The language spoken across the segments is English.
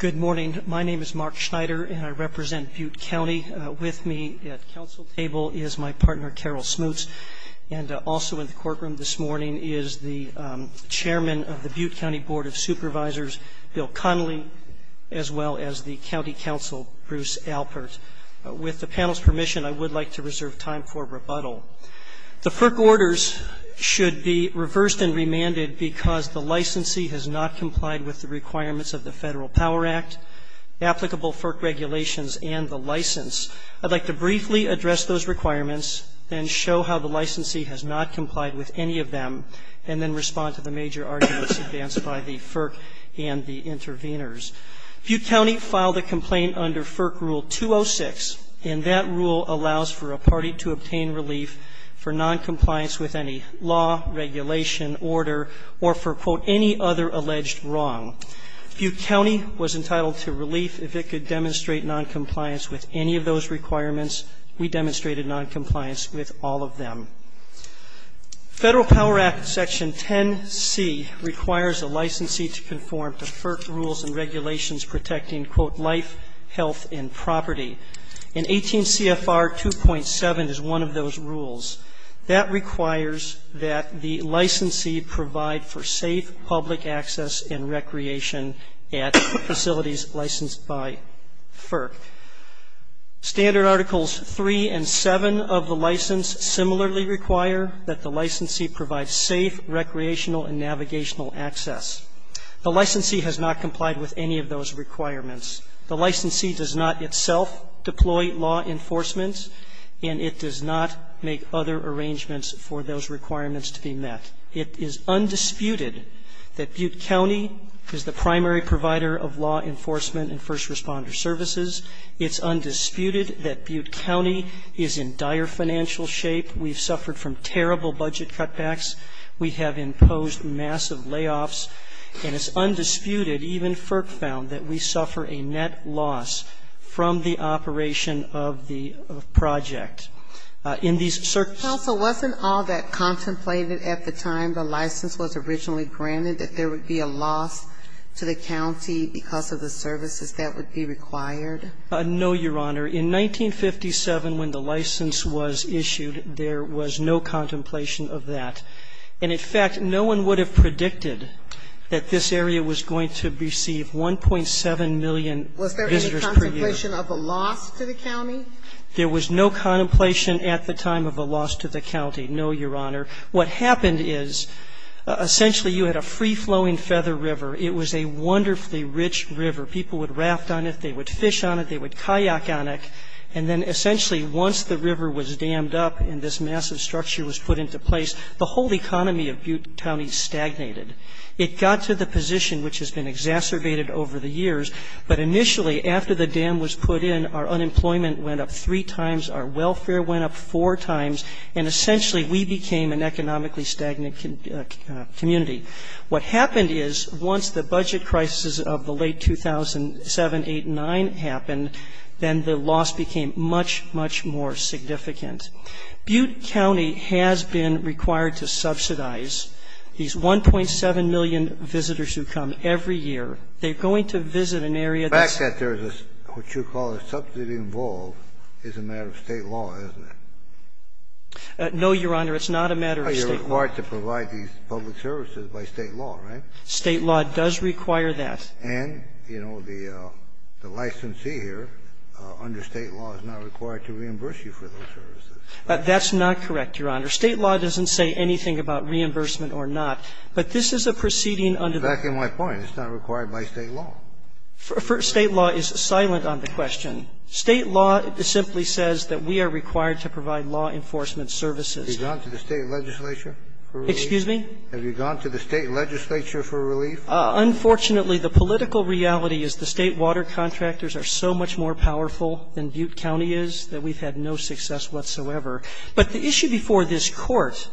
Good morning. My name is Mark Schneider, and I represent Butte County. With me at council table is my partner, Carol Smoots. And also in the courtroom this morning is the Chairman of the Butte County Board of Supervisors, Bill Connolly, as well as the County Counsel, Bruce Alpert. With the panel's permission, I would like to reserve time for rebuttal. The FERC orders should be reversed and remanded because the licensee has not complied with the requirements of the Federal Power Act, applicable FERC regulations, and the license. I'd like to briefly address those requirements and show how the licensee has not complied with any of them, and then respond to the major arguments advanced by the FERC and the interveners. Butte County filed a complaint under FERC Rule 206, and that rule allows for a party to obtain relief for noncompliance with any law, regulation, order, or for, quote, any other alleged wrong. Butte County was entitled to relief. If it could demonstrate noncompliance with any of those requirements, we demonstrated noncompliance with all of them. Federal Power Act Section 10C requires a licensee to conform to FERC rules and regulations protecting, quote, life, health, and property. And 18 CFR 2.7 is one of those rules. That requires that the licensee provide for safe public access and recreation at facilities licensed by FERC. Standard Articles 3 and 7 of the license similarly require that the licensee provide safe recreational and navigational access. The licensee has not complied with any of those requirements. The licensee does not itself deploy law enforcement, and it does not make other arrangements for those requirements to be met. It is undisputed that Butte County is the primary provider of law enforcement and first responder services. It's undisputed that Butte County is in dire financial shape. We've suffered from terrible budget cutbacks. We have imposed massive layoffs. And it's undisputed, even FERC found, that we suffer a net loss from the operation of the project. In these circumstances Sotomayor, wasn't all that contemplated at the time the license was originally granted, that there would be a loss to the county because of the services that would be required? No, Your Honor. In 1957, when the license was issued, there was no contemplation of that. And, in fact, no one would have predicted that this area was going to receive 1.7 million visitors per year. Was there any contemplation of a loss to the county? There was no contemplation at the time of a loss to the county, no, Your Honor. What happened is, essentially, you had a free-flowing Feather River. It was a wonderfully rich river. People would raft on it. They would fish on it. They would kayak on it. And then, essentially, once the river was dammed up and this massive structure was put into place, the whole economy of Butte County stagnated. It got to the position which has been exacerbated over the years. But, initially, after the dam was put in, our unemployment went up three times. Our welfare went up four times. And, essentially, we became an economically stagnant community. What happened is, once the budget crisis of the late 2007, 2008, 2009 happened, then the loss became much, much more significant. Butte County has been required to subsidize these 1.7 million visitors who come every year. They're going to visit an area that's ---- The fact that there's what you call a subsidy involved is a matter of State law, isn't it? No, Your Honor. It's not a matter of State law. You're required to provide these public services by State law, right? State law does require that. And, you know, the licensee here under State law is not required to reimburse you for those services. That's not correct, Your Honor. State law doesn't say anything about reimbursement or not. But this is a proceeding under the ---- But that's exactly my point. It's not required by State law. State law is silent on the question. State law simply says that we are required to provide law enforcement services. Have you gone to the State legislature for relief? Excuse me? Have you gone to the State legislature for relief? Unfortunately, the political reality is the State water contractors are so much more powerful than Butte County is that we've had no success whatsoever. But the issue before this Court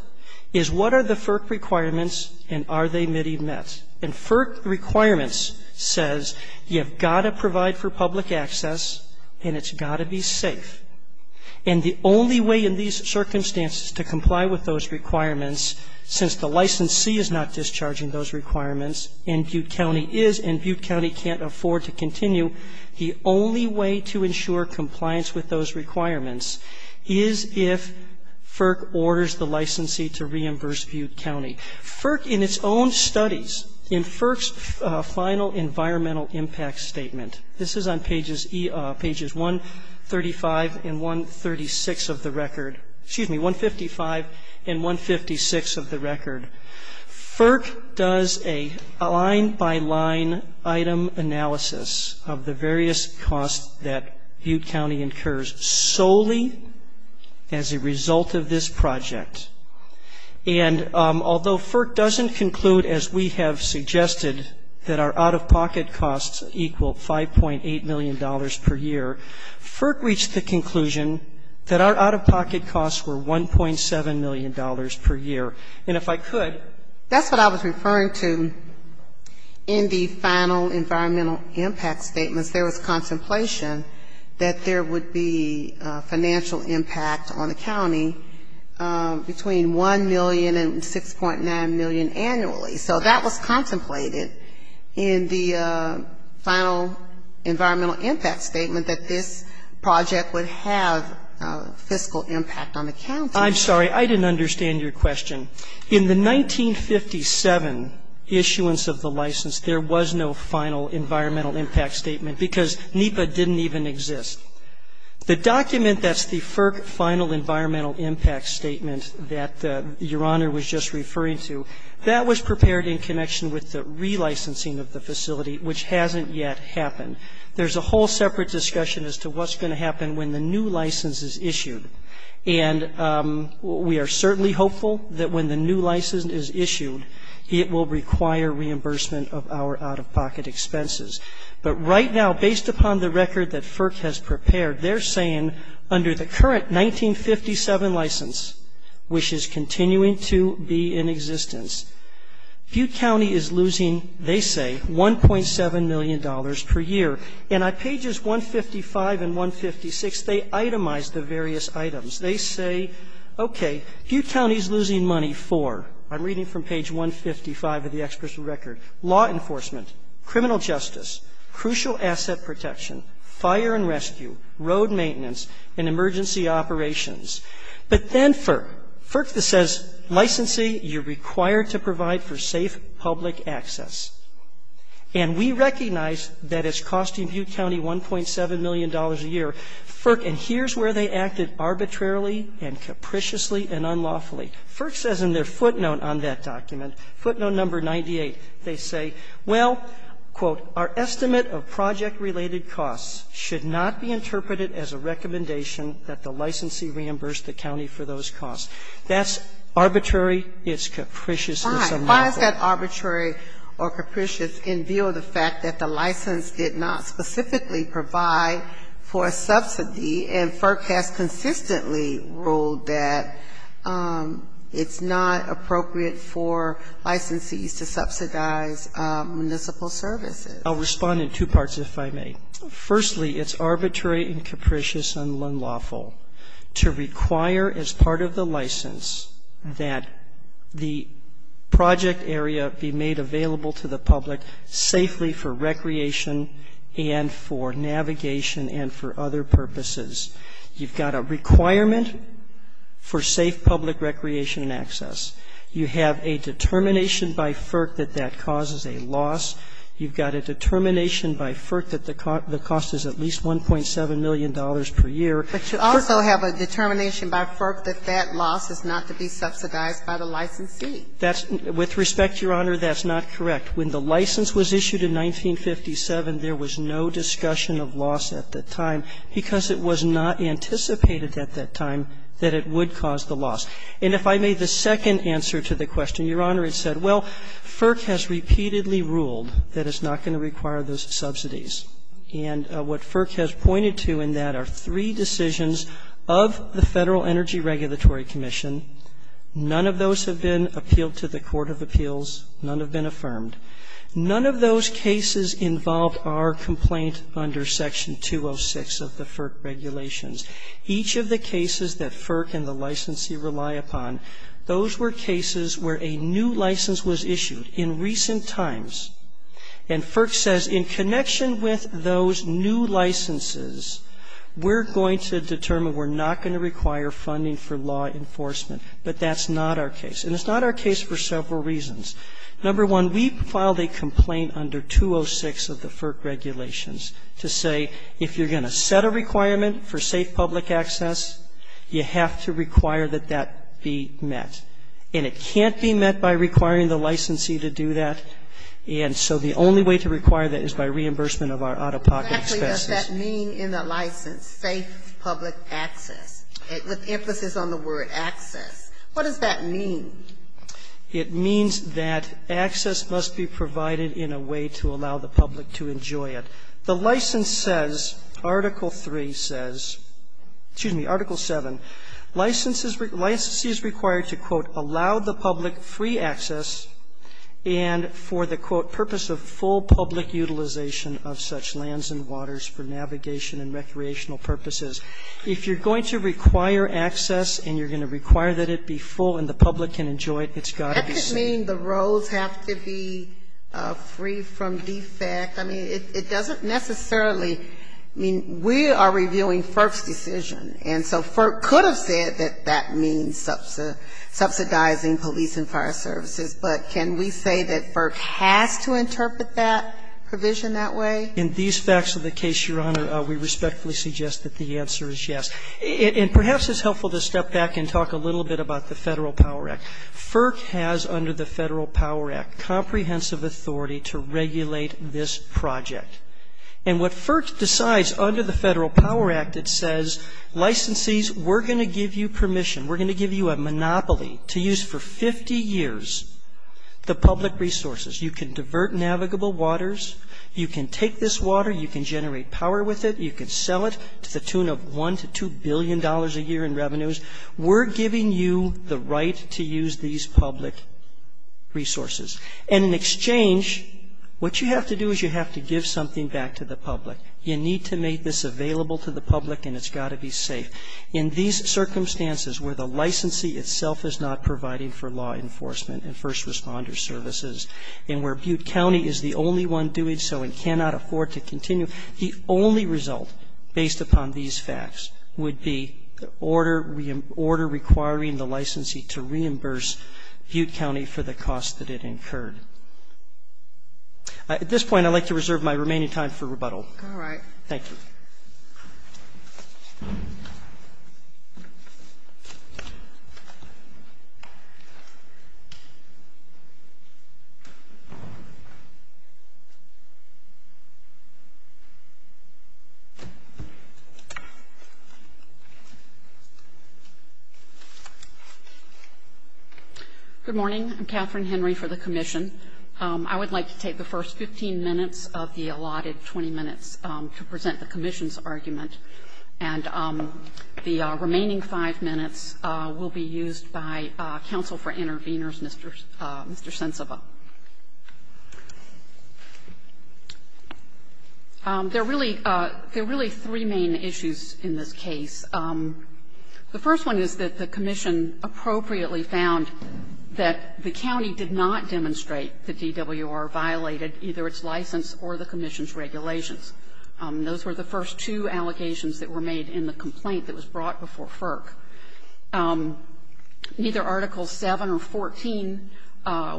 is what are the FERC requirements, and are they met? And FERC requirements says you have got to provide for public access and it's got to be safe. And the only way in these circumstances to comply with those requirements, since the licensee is not discharging those requirements and Butte County is and Butte County can't afford to continue, the only way to ensure compliance with those requirements is if FERC orders the licensee to reimburse Butte County. FERC in its own studies, in FERC's final environmental impact statement, this is on pages 135 and 136 of the record. Excuse me, 155 and 156 of the record. FERC does a line-by-line item analysis of the various costs that Butte County incurs solely as a result of this project. And although FERC doesn't conclude, as we have suggested, that our out-of-pocket costs equal $5.8 million per year, FERC reached the conclusion that our out-of-pocket costs were $1.7 million per year. And if I could. That's what I was referring to in the final environmental impact statements. There was contemplation that there would be financial impact on the county, which is between $1 million and $6.9 million annually. So that was contemplated in the final environmental impact statement, that this project would have fiscal impact on the county. I'm sorry. I didn't understand your question. In the 1957 issuance of the license, there was no final environmental impact statement because NEPA didn't even exist. The document that's the FERC final environmental impact statement that Your Honor was just referring to, that was prepared in connection with the relicensing of the facility, which hasn't yet happened. There's a whole separate discussion as to what's going to happen when the new license is issued. And we are certainly hopeful that when the new license is issued, it will require reimbursement of our out-of-pocket expenses. But right now, based upon the record that FERC has prepared, they're saying under the current 1957 license, which is continuing to be in existence, Butte County is losing, they say, $1.7 million per year. And on pages 155 and 156, they itemize the various items. They say, okay, Butte County is losing money for I'm reading from page 155 of the experts' record, law enforcement, criminal justice, crucial asset protection, fire and rescue, road maintenance, and emergency operations. But then FERC, FERC says licensing, you're required to provide for safe public access. And we recognize that it's costing Butte County $1.7 million a year. And here's where they acted arbitrarily and capriciously and unlawfully. FERC says in their footnote on that document, footnote number 98, they say, well, quote, our estimate of project-related costs should not be interpreted as a recommendation that the licensee reimburse the county for those costs. That's arbitrary. It's capricious and unlawful. Why? Why is that arbitrary or capricious in view of the fact that the license did not specifically provide for a subsidy and FERC has consistently ruled that it's not appropriate for licensees to subsidize municipal services? I'll respond in two parts, if I may. Firstly, it's arbitrary and capricious and unlawful to require as part of the license that the project area be made available to the public safely for recreation and for navigation and for other purposes. You've got a requirement for safe public recreation and access. You have a determination by FERC that that causes a loss. You've got a determination by FERC that the cost is at least $1.7 million per year. But you also have a determination by FERC that that loss is not to be subsidized by the licensee. With respect, Your Honor, that's not correct. When the license was issued in 1957, there was no discussion of loss at that time because it was not anticipated at that time that it would cause the loss. And if I may, the second answer to the question, Your Honor, it said, well, FERC has repeatedly ruled that it's not going to require those subsidies. And what FERC has pointed to in that are three decisions of the Federal Energy Regulatory Commission. None of those have been appealed to the court of appeals. None have been affirmed. None of those cases involve our complaint under Section 206 of the FERC regulations. Each of the cases that FERC and the licensee rely upon, those were cases where a new license was issued in recent times. And FERC says in connection with those new licenses, we're going to determine we're not going to require funding for law enforcement. But that's not our case. And it's not our case for several reasons. Number one, we filed a complaint under 206 of the FERC regulations to say if you're going to set a requirement for safe public access, you have to require that that be met. And it can't be met by requiring the licensee to do that. And so the only way to require that is by reimbursement of our out-of-pocket expenses. Exactly. What does that mean in the license, safe public access, with emphasis on the word access? What does that mean? It means that access must be provided in a way to allow the public to enjoy it. The license says, Article 3 says, excuse me, Article 7, licenses, licensees required to, quote, allow the public free access and for the, quote, purpose of full public utilization of such lands and waters for navigation and recreational purposes. If you're going to require access and you're going to require that it be full and the public can enjoy it, it's got to be safe. That could mean the roads have to be free from defect. I mean, it doesn't necessarily mean we are reviewing FERC's decision. And so FERC could have said that that means subsidizing police and fire services. But can we say that FERC has to interpret that provision that way? In these facts of the case, Your Honor, we respectfully suggest that the answer is yes. And perhaps it's helpful to step back and talk a little bit about the Federal Power Act. FERC has under the Federal Power Act comprehensive authority to regulate this project. And what FERC decides under the Federal Power Act, it says, licensees, we're going to give you permission. We're going to give you a monopoly to use for 50 years the public resources. You can divert navigable waters. You can take this water. You can generate power with it. You can sell it to the tune of $1 to $2 billion a year in revenues. We're giving you the right to use these public resources. And in exchange, what you have to do is you have to give something back to the public. You need to make this available to the public and it's got to be safe. In these circumstances where the licensee itself is not providing for law enforcement, the only result based upon these facts would be the order requiring the licensee to reimburse Butte County for the cost that it incurred. At this point, I'd like to reserve my remaining time for rebuttal. All right. Thank you. Good morning. I'm Katherine Henry for the commission. I would like to take the first 15 minutes of the allotted 20 minutes to present the commission's argument. And the remaining 5 minutes will be used by counsel for interveners, Mr. Sensaba. There are really three main issues in this case. The first one is that the commission appropriately found that the county did not demonstrate that DWR violated either its license or the commission's regulations. Those were the first two allegations that were made in the complaint that was brought before FERC. Neither Article 7 or 14,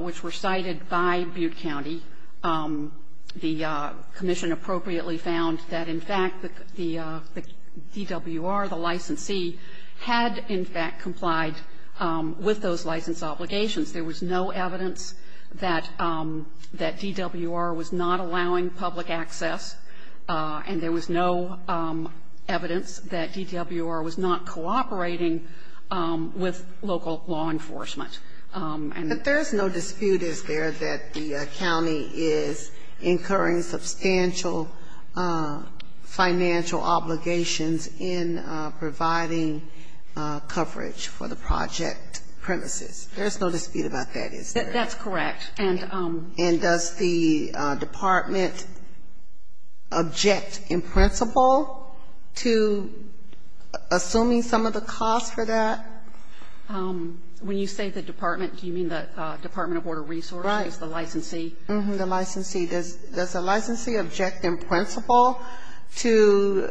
which were cited by Butte County, the commission appropriately found that, in fact, the DWR, the licensee, had, in fact, complied with those license obligations. There was no evidence that DWR was not allowing public access, and there was no evidence that DWR was not cooperating with local law enforcement. But there's no dispute, is there, that the county is incurring substantial financial obligations in providing coverage for the project premises. There's no dispute about that, is there? That's correct. And does the department object in principle to assuming some of the costs for that? When you say the department, do you mean the Department of Water Resources, the licensee? Right. The licensee. Does the licensee object in principle to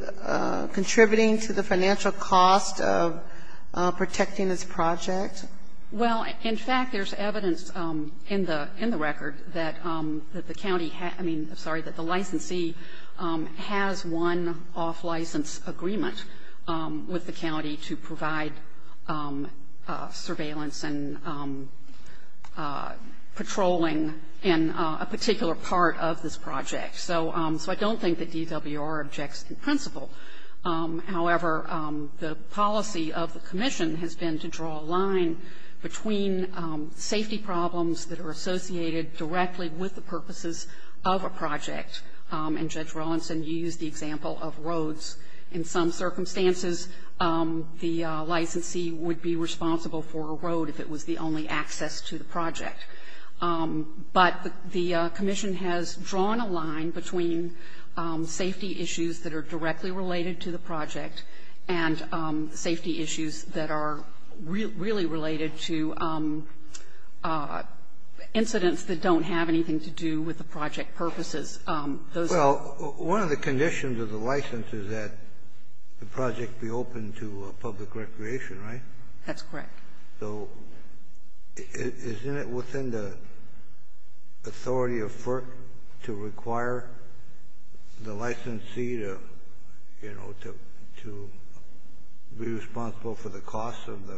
contributing to the financial cost of protecting this project? Yes. Well, in fact, there's evidence in the record that the county had – I mean, I'm sorry, that the licensee has won off-license agreement with the county to provide surveillance and patrolling in a particular part of this project. So I don't think that DWR objects in principle. However, the policy of the commission has been to draw a line between safety problems that are associated directly with the purposes of a project. And Judge Rawlinson used the example of roads. In some circumstances, the licensee would be responsible for a road if it was the only access to the project. But the commission has drawn a line between safety issues that are directly related to the project and safety issues that are really related to incidents that don't have anything to do with the project purposes. Well, one of the conditions of the license is that the project be open to public recreation, right? That's correct. So isn't it within the authority of FERC to require the licensee to be responsible for the cost of the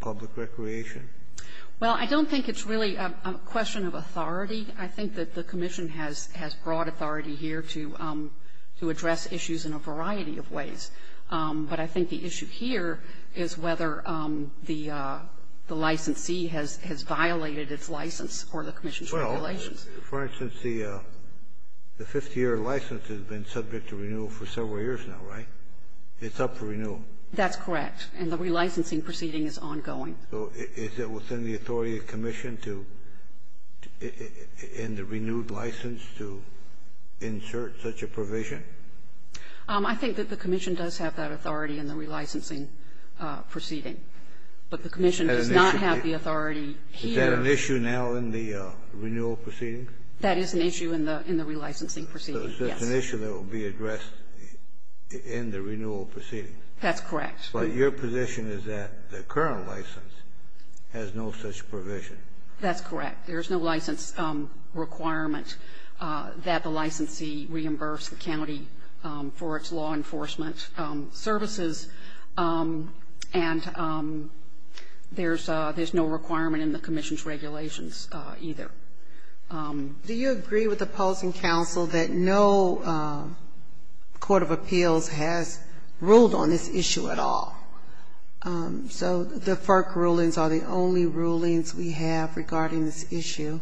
public recreation? Well, I don't think it's really a question of authority. I think that the commission has broad authority here to address issues in a variety of ways. But I think the issue here is whether the licensee has violated its license or the commission's regulations. Well, for instance, the 50-year license has been subject to renewal for several years now, right? It's up for renewal. That's correct. And the relicensing proceeding is ongoing. So is it within the authority of the commission and the renewed license to insert such a provision? I think that the commission does have that authority in the relicensing proceeding. But the commission does not have the authority here. Is that an issue now in the renewal proceeding? That is an issue in the relicensing proceeding, yes. So it's an issue that will be addressed in the renewal proceeding. That's correct. But your position is that the current license has no such provision. That's correct. There's no license requirement that the licensee reimburse the county for its law enforcement services. And there's no requirement in the commission's regulations either. Do you agree with opposing counsel that no court of appeals has ruled on this issue at all? So the FERC rulings are the only rulings we have regarding this issue?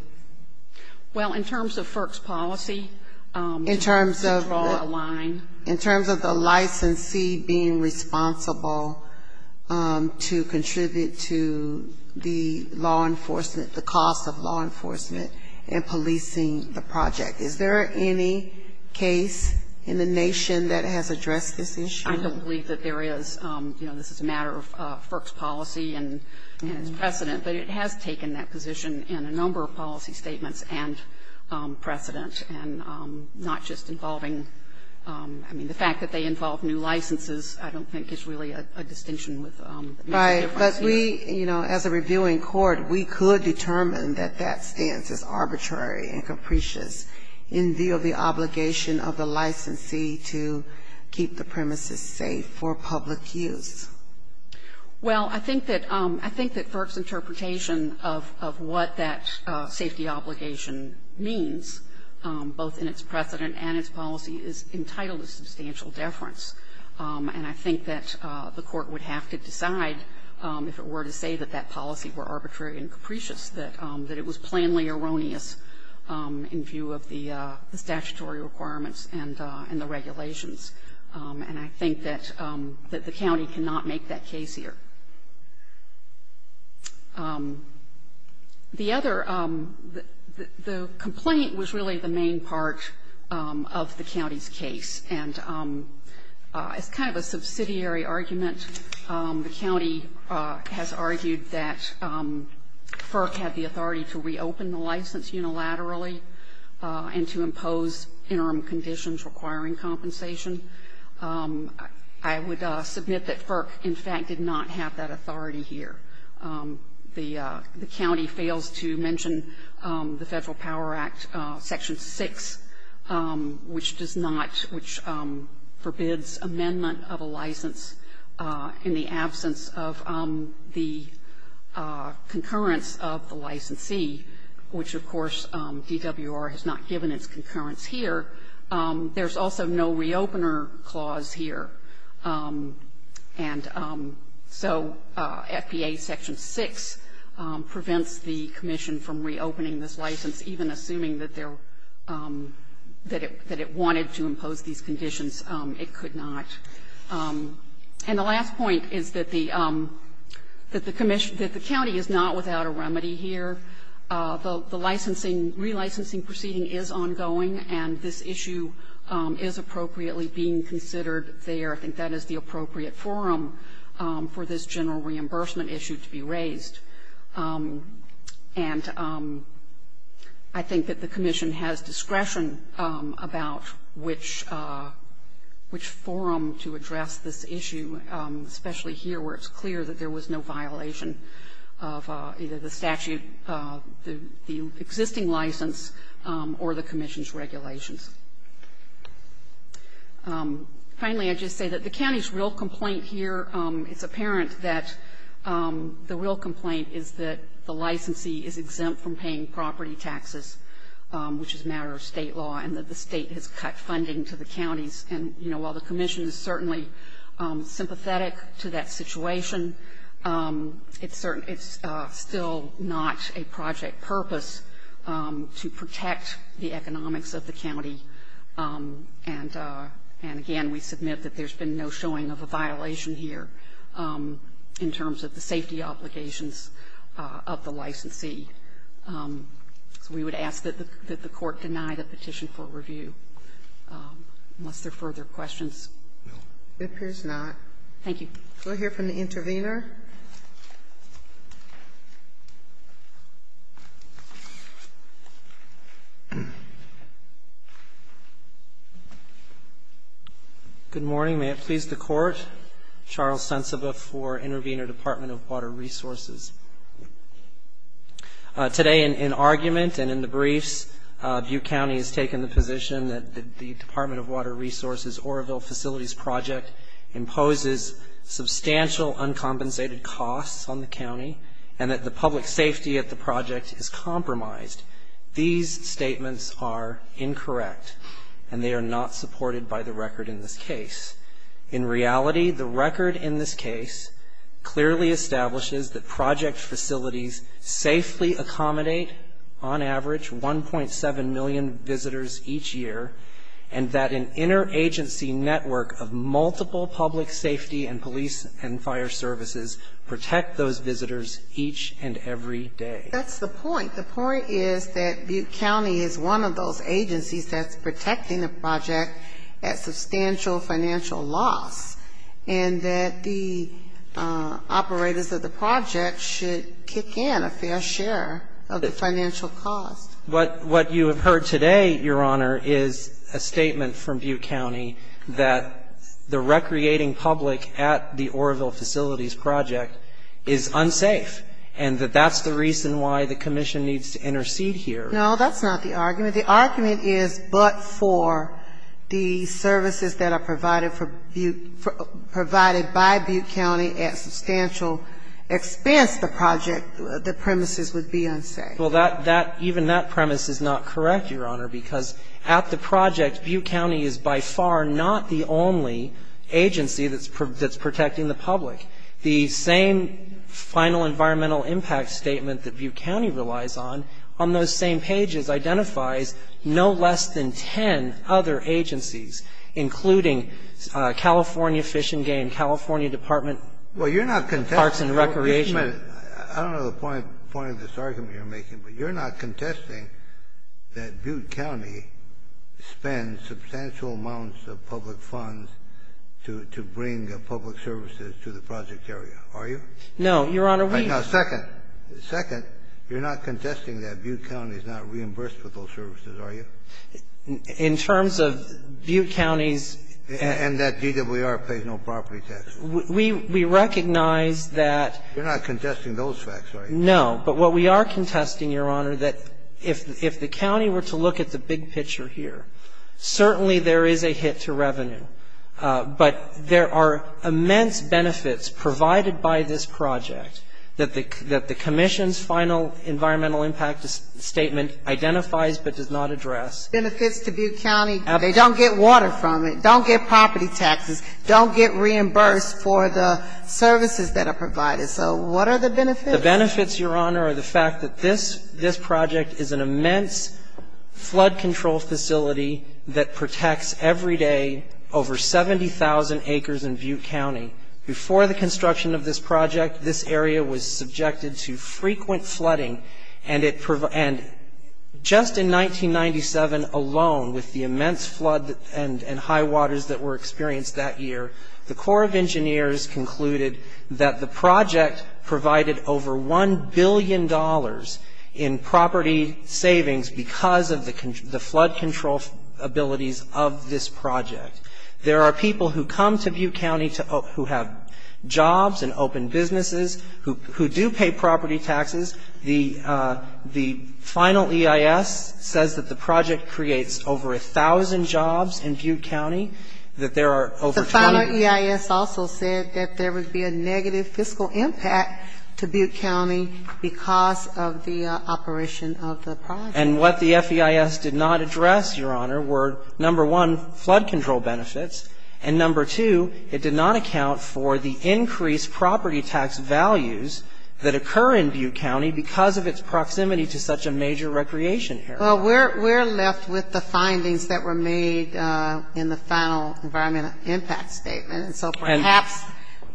Well, in terms of FERC's policy, to draw a line. In terms of the licensee being responsible to contribute to the law enforcement, the cost of law enforcement in policing the project, is there any case in the nation that has addressed this issue? I don't believe that there is. You know, this is a matter of FERC's policy and its precedent. But it has taken that position in a number of policy statements and precedent and not just involving the fact that they involve new licenses. I don't think it's really a distinction. Right. But we, you know, as a reviewing court, we could determine that that stance is arbitrary and capricious in view of the obligation of the licensee to keep the premises safe for public use. Well, I think that FERC's interpretation of what that safety obligation means, both in its precedent and its policy, is entitled to substantial deference. And I think that the Court would have to decide, if it were to say that that policy were arbitrary and capricious, that it was plainly erroneous in view of the statutory requirements and the regulations. And I think that the county cannot make that case here. The other, the complaint was really the main part of the county's case. And it's kind of a subsidiary argument. The county has argued that FERC had the authority to reopen the license unilaterally and to impose interim conditions requiring compensation. I would submit that FERC, in fact, did not have that authority here. The county fails to mention the Federal Power Act, Section 6, which does not, which forbids amendment of a license in the absence of the concurrence of the licensee, which, of course, DWR has not given its concurrence here. There's also no reopener clause here. And so FBA Section 6 prevents the commission from reopening this license, even assuming that it wanted to impose these conditions. It could not. And the last point is that the county is not without a remedy here. The licensing, relicensing proceeding is ongoing, and this issue is appropriately being considered there. I think that is the appropriate forum for this general reimbursement issue to be raised. And I think that the commission has discretion about which forum to address this issue, especially here where it's clear that there was no violation of either the statute, the existing license, or the commission's regulations. Finally, I'd just say that the county's real complaint here, it's apparent that the real complaint is that the licensee is exempt from paying property taxes, which is a matter of State law, and that the State has cut funding to the counties. And, you know, while the commission is certainly sympathetic to that situation, it's still not a project purpose to protect the economics of the county. And again, we submit that there's been no showing of a violation here in terms of the safety obligations of the licensee. So we would ask that the Court deny the petition for review, unless there are further questions. It appears not. Thank you. Can we hear from the intervener? Good morning. May it please the Court? Charles Sensaba for Intervener Department of Water Resources. Today in argument and in the briefs, Butte County has taken the position that the Department of Water Resources Oroville Facilities Project imposes substantial uncompensated costs on the county, and that the public safety at the project is compromised. These statements are incorrect, and they are not supported by the record in this case. In reality, the record in this case clearly establishes that project facilities safely accommodate, on average, 1.7 million visitors each year, and that an interagency network of multiple public safety and police and fire services protect those visitors each and every day. That's the point. The point is that Butte County is one of those agencies that's protecting the project at substantial financial loss, and that the operators of the project should kick in a fair share of the financial cost. What you have heard today, Your Honor, is a statement from Butte County that the recreating public at the Oroville Facilities Project is unsafe, and that that's the reason why the commission needs to intercede here. No, that's not the argument. The argument is but for the services that are provided for Butte, provided by Butte County at substantial expense, the project, the premises would be unsafe. Well, even that premise is not correct, Your Honor, because at the project, Butte County is by far not the only agency that's protecting the public. The same final environmental impact statement that Butte County relies on on those same pages identifies no less than ten other agencies, including California Fish and Game, California Department of Parks and Recreation. I don't know the point of this argument you're making, but you're not contesting that Butte County spends substantial amounts of public funds to bring public services to the project area, are you? No, Your Honor. Second, you're not contesting that Butte County is not reimbursed for those services, are you? In terms of Butte County's And that DWR pays no property taxes. We recognize that You're not contesting those facts, are you? No. But what we are contesting, Your Honor, that if the county were to look at the big picture here, certainly there is a hit to revenue, but there are immense benefits provided by this project that the commission's final environmental impact statement identifies but does not address. Benefits to Butte County, they don't get water from it, don't get property taxes, don't get reimbursed for the services that are provided. So what are the benefits? The benefits, Your Honor, are the fact that this project is an immense flood control facility that protects every day over 70,000 acres in Butte County. Before the construction of this project, this area was subjected to frequent flooding, and just in 1997 alone, with the immense flood and high waters that were experienced that year, the Corps of Engineers concluded that the project provided over $1 billion in property savings because of the flood control abilities of this project. There are people who come to Butte County who have jobs and open businesses, who do pay property taxes. The final EIS says that the project creates over 1,000 jobs in Butte County, that there are over 20. The final EIS also said that there would be a negative fiscal impact to Butte County because of the operation of the project. And what the FEIS did not address, Your Honor, were, number one, flood control benefits, and, number two, it did not account for the increased property tax values that occur in Butte County because of its proximity to such a major recreation area. Well, we're left with the findings that were made in the final environmental impact statement. And so perhaps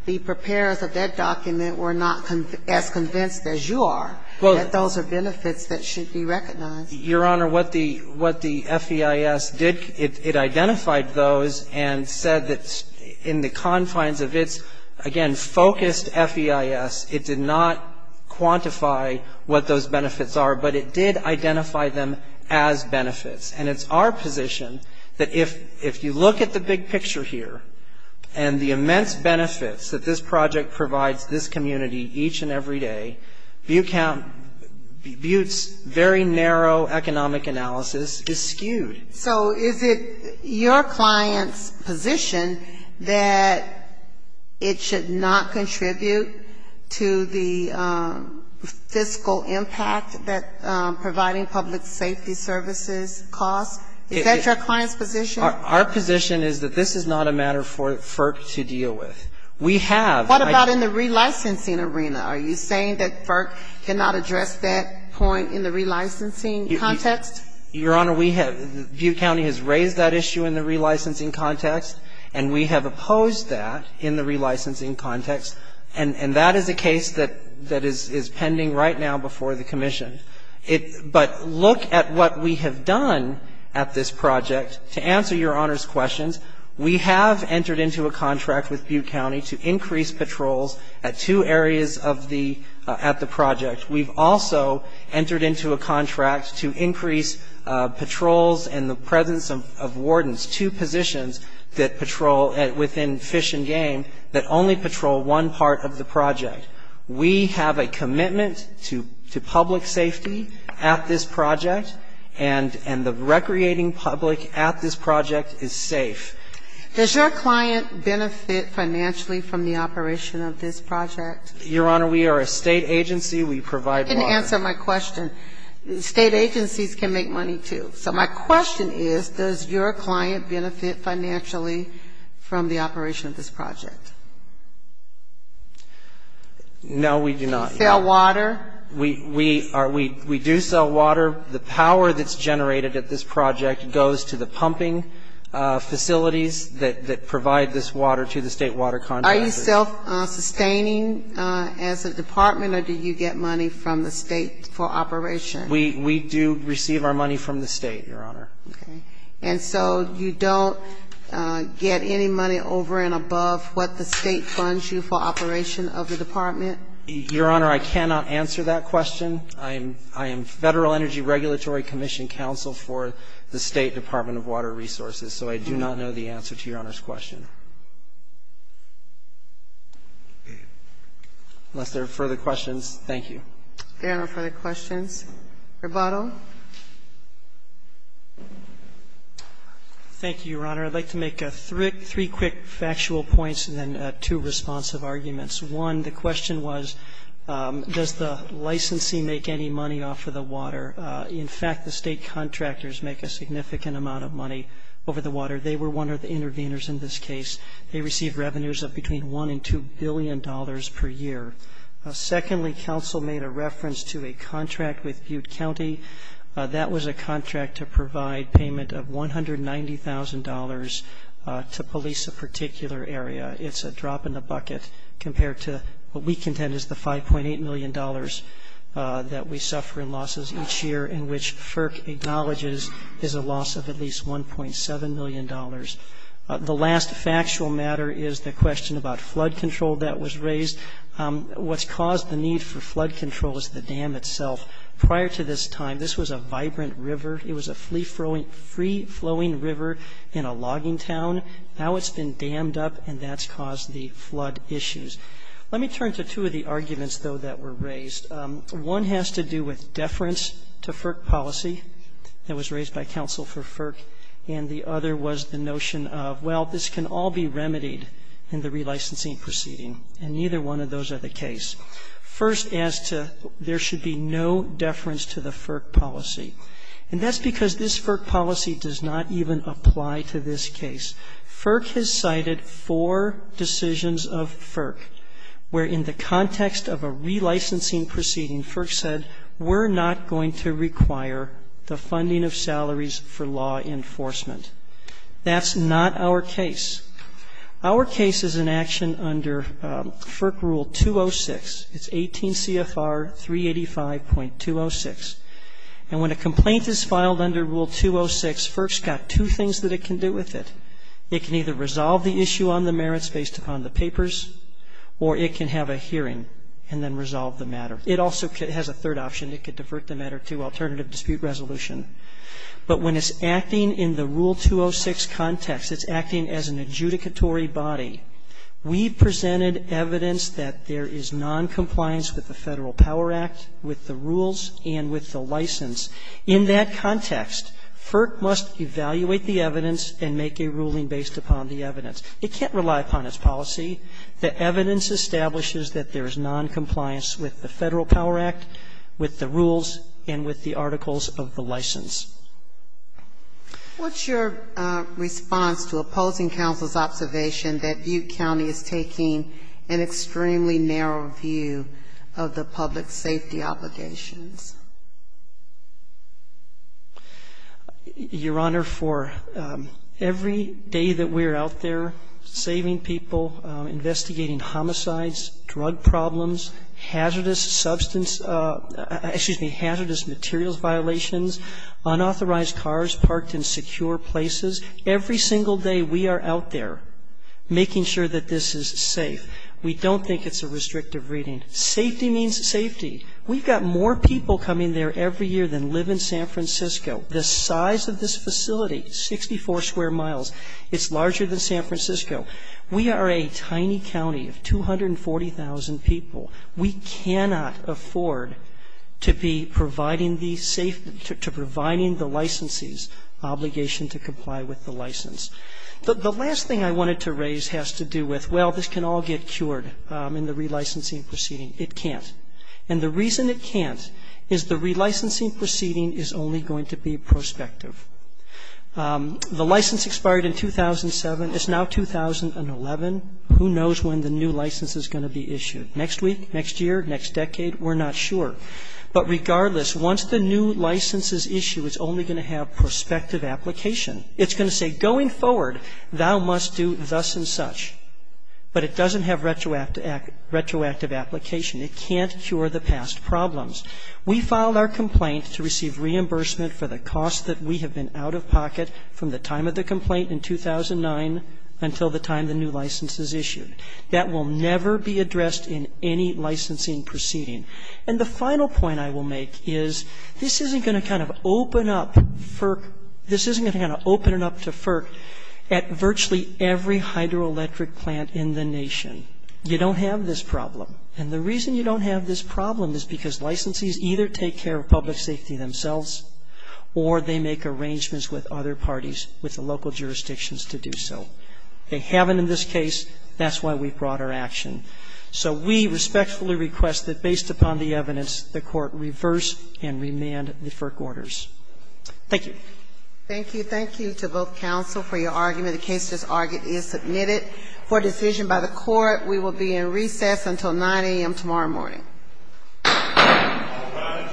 the preparers of that document were not as convinced as you are that those are benefits that should be recognized. Your Honor, what the FEIS did, it identified those and said that in the confines of its, again, focused FEIS, it did not quantify what those benefits are, but it did identify them as benefits. And it's our position that if you look at the big picture here and the immense benefits that this project provides this community each and every day, Butte's very narrow economic analysis is skewed. So is it your client's position that it should not contribute to the fiscal impact that providing public safety services costs? Is that your client's position? Our position is that this is not a matter for FERC to deal with. What about in the relicensing arena? Are you saying that FERC cannot address that point in the relicensing context? Your Honor, Butte County has raised that issue in the relicensing context. And we have opposed that in the relicensing context. And that is a case that is pending right now before the commission. But look at what we have done at this project. To answer your Honor's questions, we have entered into a contract with Butte County to increase patrols at two areas at the project. We've also entered into a contract to increase patrols in the presence of wardens, two positions that patrol within Fish and Game that only patrol one part of the project. We have a commitment to public safety at this project. And the recreating public at this project is safe. Does your client benefit financially from the operation of this project? Your Honor, we are a State agency. We provide water. You didn't answer my question. State agencies can make money, too. So my question is, does your client benefit financially from the operation of this project? No, we do not. Do you sell water? We do sell water. The power that's generated at this project goes to the pumping facilities that provide this water to the State water contractors. Are you self-sustaining as a department, or do you get money from the State for operation? We do receive our money from the State, Your Honor. Okay. And so you don't get any money over and above what the State funds you for operation of the department? Your Honor, I cannot answer that question. I am Federal Energy Regulatory Commission counsel for the State Department of Water Resources, so I do not know the answer to Your Honor's question. Unless there are further questions, thank you. If there are no further questions, rebuttal. Thank you, Your Honor. I'd like to make three quick factual points and then two responsive arguments. One, the question was, does the licensee make any money off of the water? In fact, the State contractors make a significant amount of money over the water. They were one of the interveners in this case. They receive revenues of between $1 billion and $2 billion per year. Secondly, counsel made a reference to a contract with Butte County. That was a contract to provide payment of $190,000 to police a particular area. It's a drop in the bucket compared to what we contend is the $5.8 million that we suffer in losses each year, in which FERC acknowledges is a loss of at least $1.7 million. The last factual matter is the question about flood control that was raised. What's caused the need for flood control is the dam itself. Prior to this time, this was a vibrant river. It was a free-flowing river in a logging town. Now it's been dammed up, and that's caused the flood issues. Let me turn to two of the arguments, though, that were raised. One has to do with deference to FERC policy that was raised by counsel for FERC, and the other was the notion of, well, this can all be remedied in the relicensing proceeding, and neither one of those are the case. First as to there should be no deference to the FERC policy, and that's because this FERC policy does not even apply to this case. FERC has cited four decisions of FERC where, in the context of a relicensing proceeding, FERC said we're not going to require the funding of salaries for law enforcement. That's not our case. Our case is an action under FERC Rule 206. It's 18 CFR 385.206. And when a complaint is filed under Rule 206, FERC's got two things that it can do with it. It can either resolve the issue on the merits based upon the papers, or it can have a hearing and then resolve the matter. It also has a third option. It could divert the matter to alternative dispute resolution. But when it's acting in the Rule 206 context, it's acting as an adjudicatory body. We've presented evidence that there is noncompliance with the Federal Power Act, with the rules, and with the license. In that context, FERC must evaluate the evidence and make a ruling based upon the evidence. It can't rely upon its policy. The evidence establishes that there is noncompliance with the Federal Power Act, with the rules, and with the articles of the license. What's your response to opposing counsel's observation that Butte County is taking an extremely narrow view of the public safety obligations? Your Honor, for every day that we're out there saving people, investigating homicides, drug problems, hazardous substance ‑‑ excuse me, hazardous materials violations, unauthorized cars parked in secure places, every single day we are out there making sure that this is safe. We don't think it's a restrictive reading. Safety means safety. We've got more people coming there every year than live in San Francisco. The size of this facility, 64 square miles, it's larger than San Francisco. We are a tiny county of 240,000 people. We cannot afford to be providing the licenses obligation to comply with the license. The last thing I wanted to raise has to do with, well, this can all get cured in the relicensing proceeding. It can't. And the reason it can't is the relicensing proceeding is only going to be prospective. The license expired in 2007. It's now 2011. Who knows when the new license is going to be issued? Next week? Next year? Next decade? We're not sure. But regardless, once the new license is issued, it's only going to have prospective application. It's going to say, going forward, thou must do thus and such. But it doesn't have retroactive application. It can't cure the past problems. We filed our complaint to receive reimbursement for the cost that we have been out of pocket from the time of the complaint in 2009 until the time the new license is issued. That will never be addressed in any licensing proceeding. And the final point I will make is this isn't going to kind of open up FERC. This isn't going to kind of open it up to FERC at virtually every hydroelectric plant in the nation. You don't have this problem. And the reason you don't have this problem is because licensees either take care of public safety themselves or they make arrangements with other parties, with the local jurisdictions, to do so. They haven't in this case. That's why we brought our action. So we respectfully request that, based upon the evidence, the Court reverse and remand the FERC orders. Thank you. Thank you. Thank you to both counsel for your argument. The case is submitted for decision by the Court. We will be in recess until 9 a.m. tomorrow morning. All rise.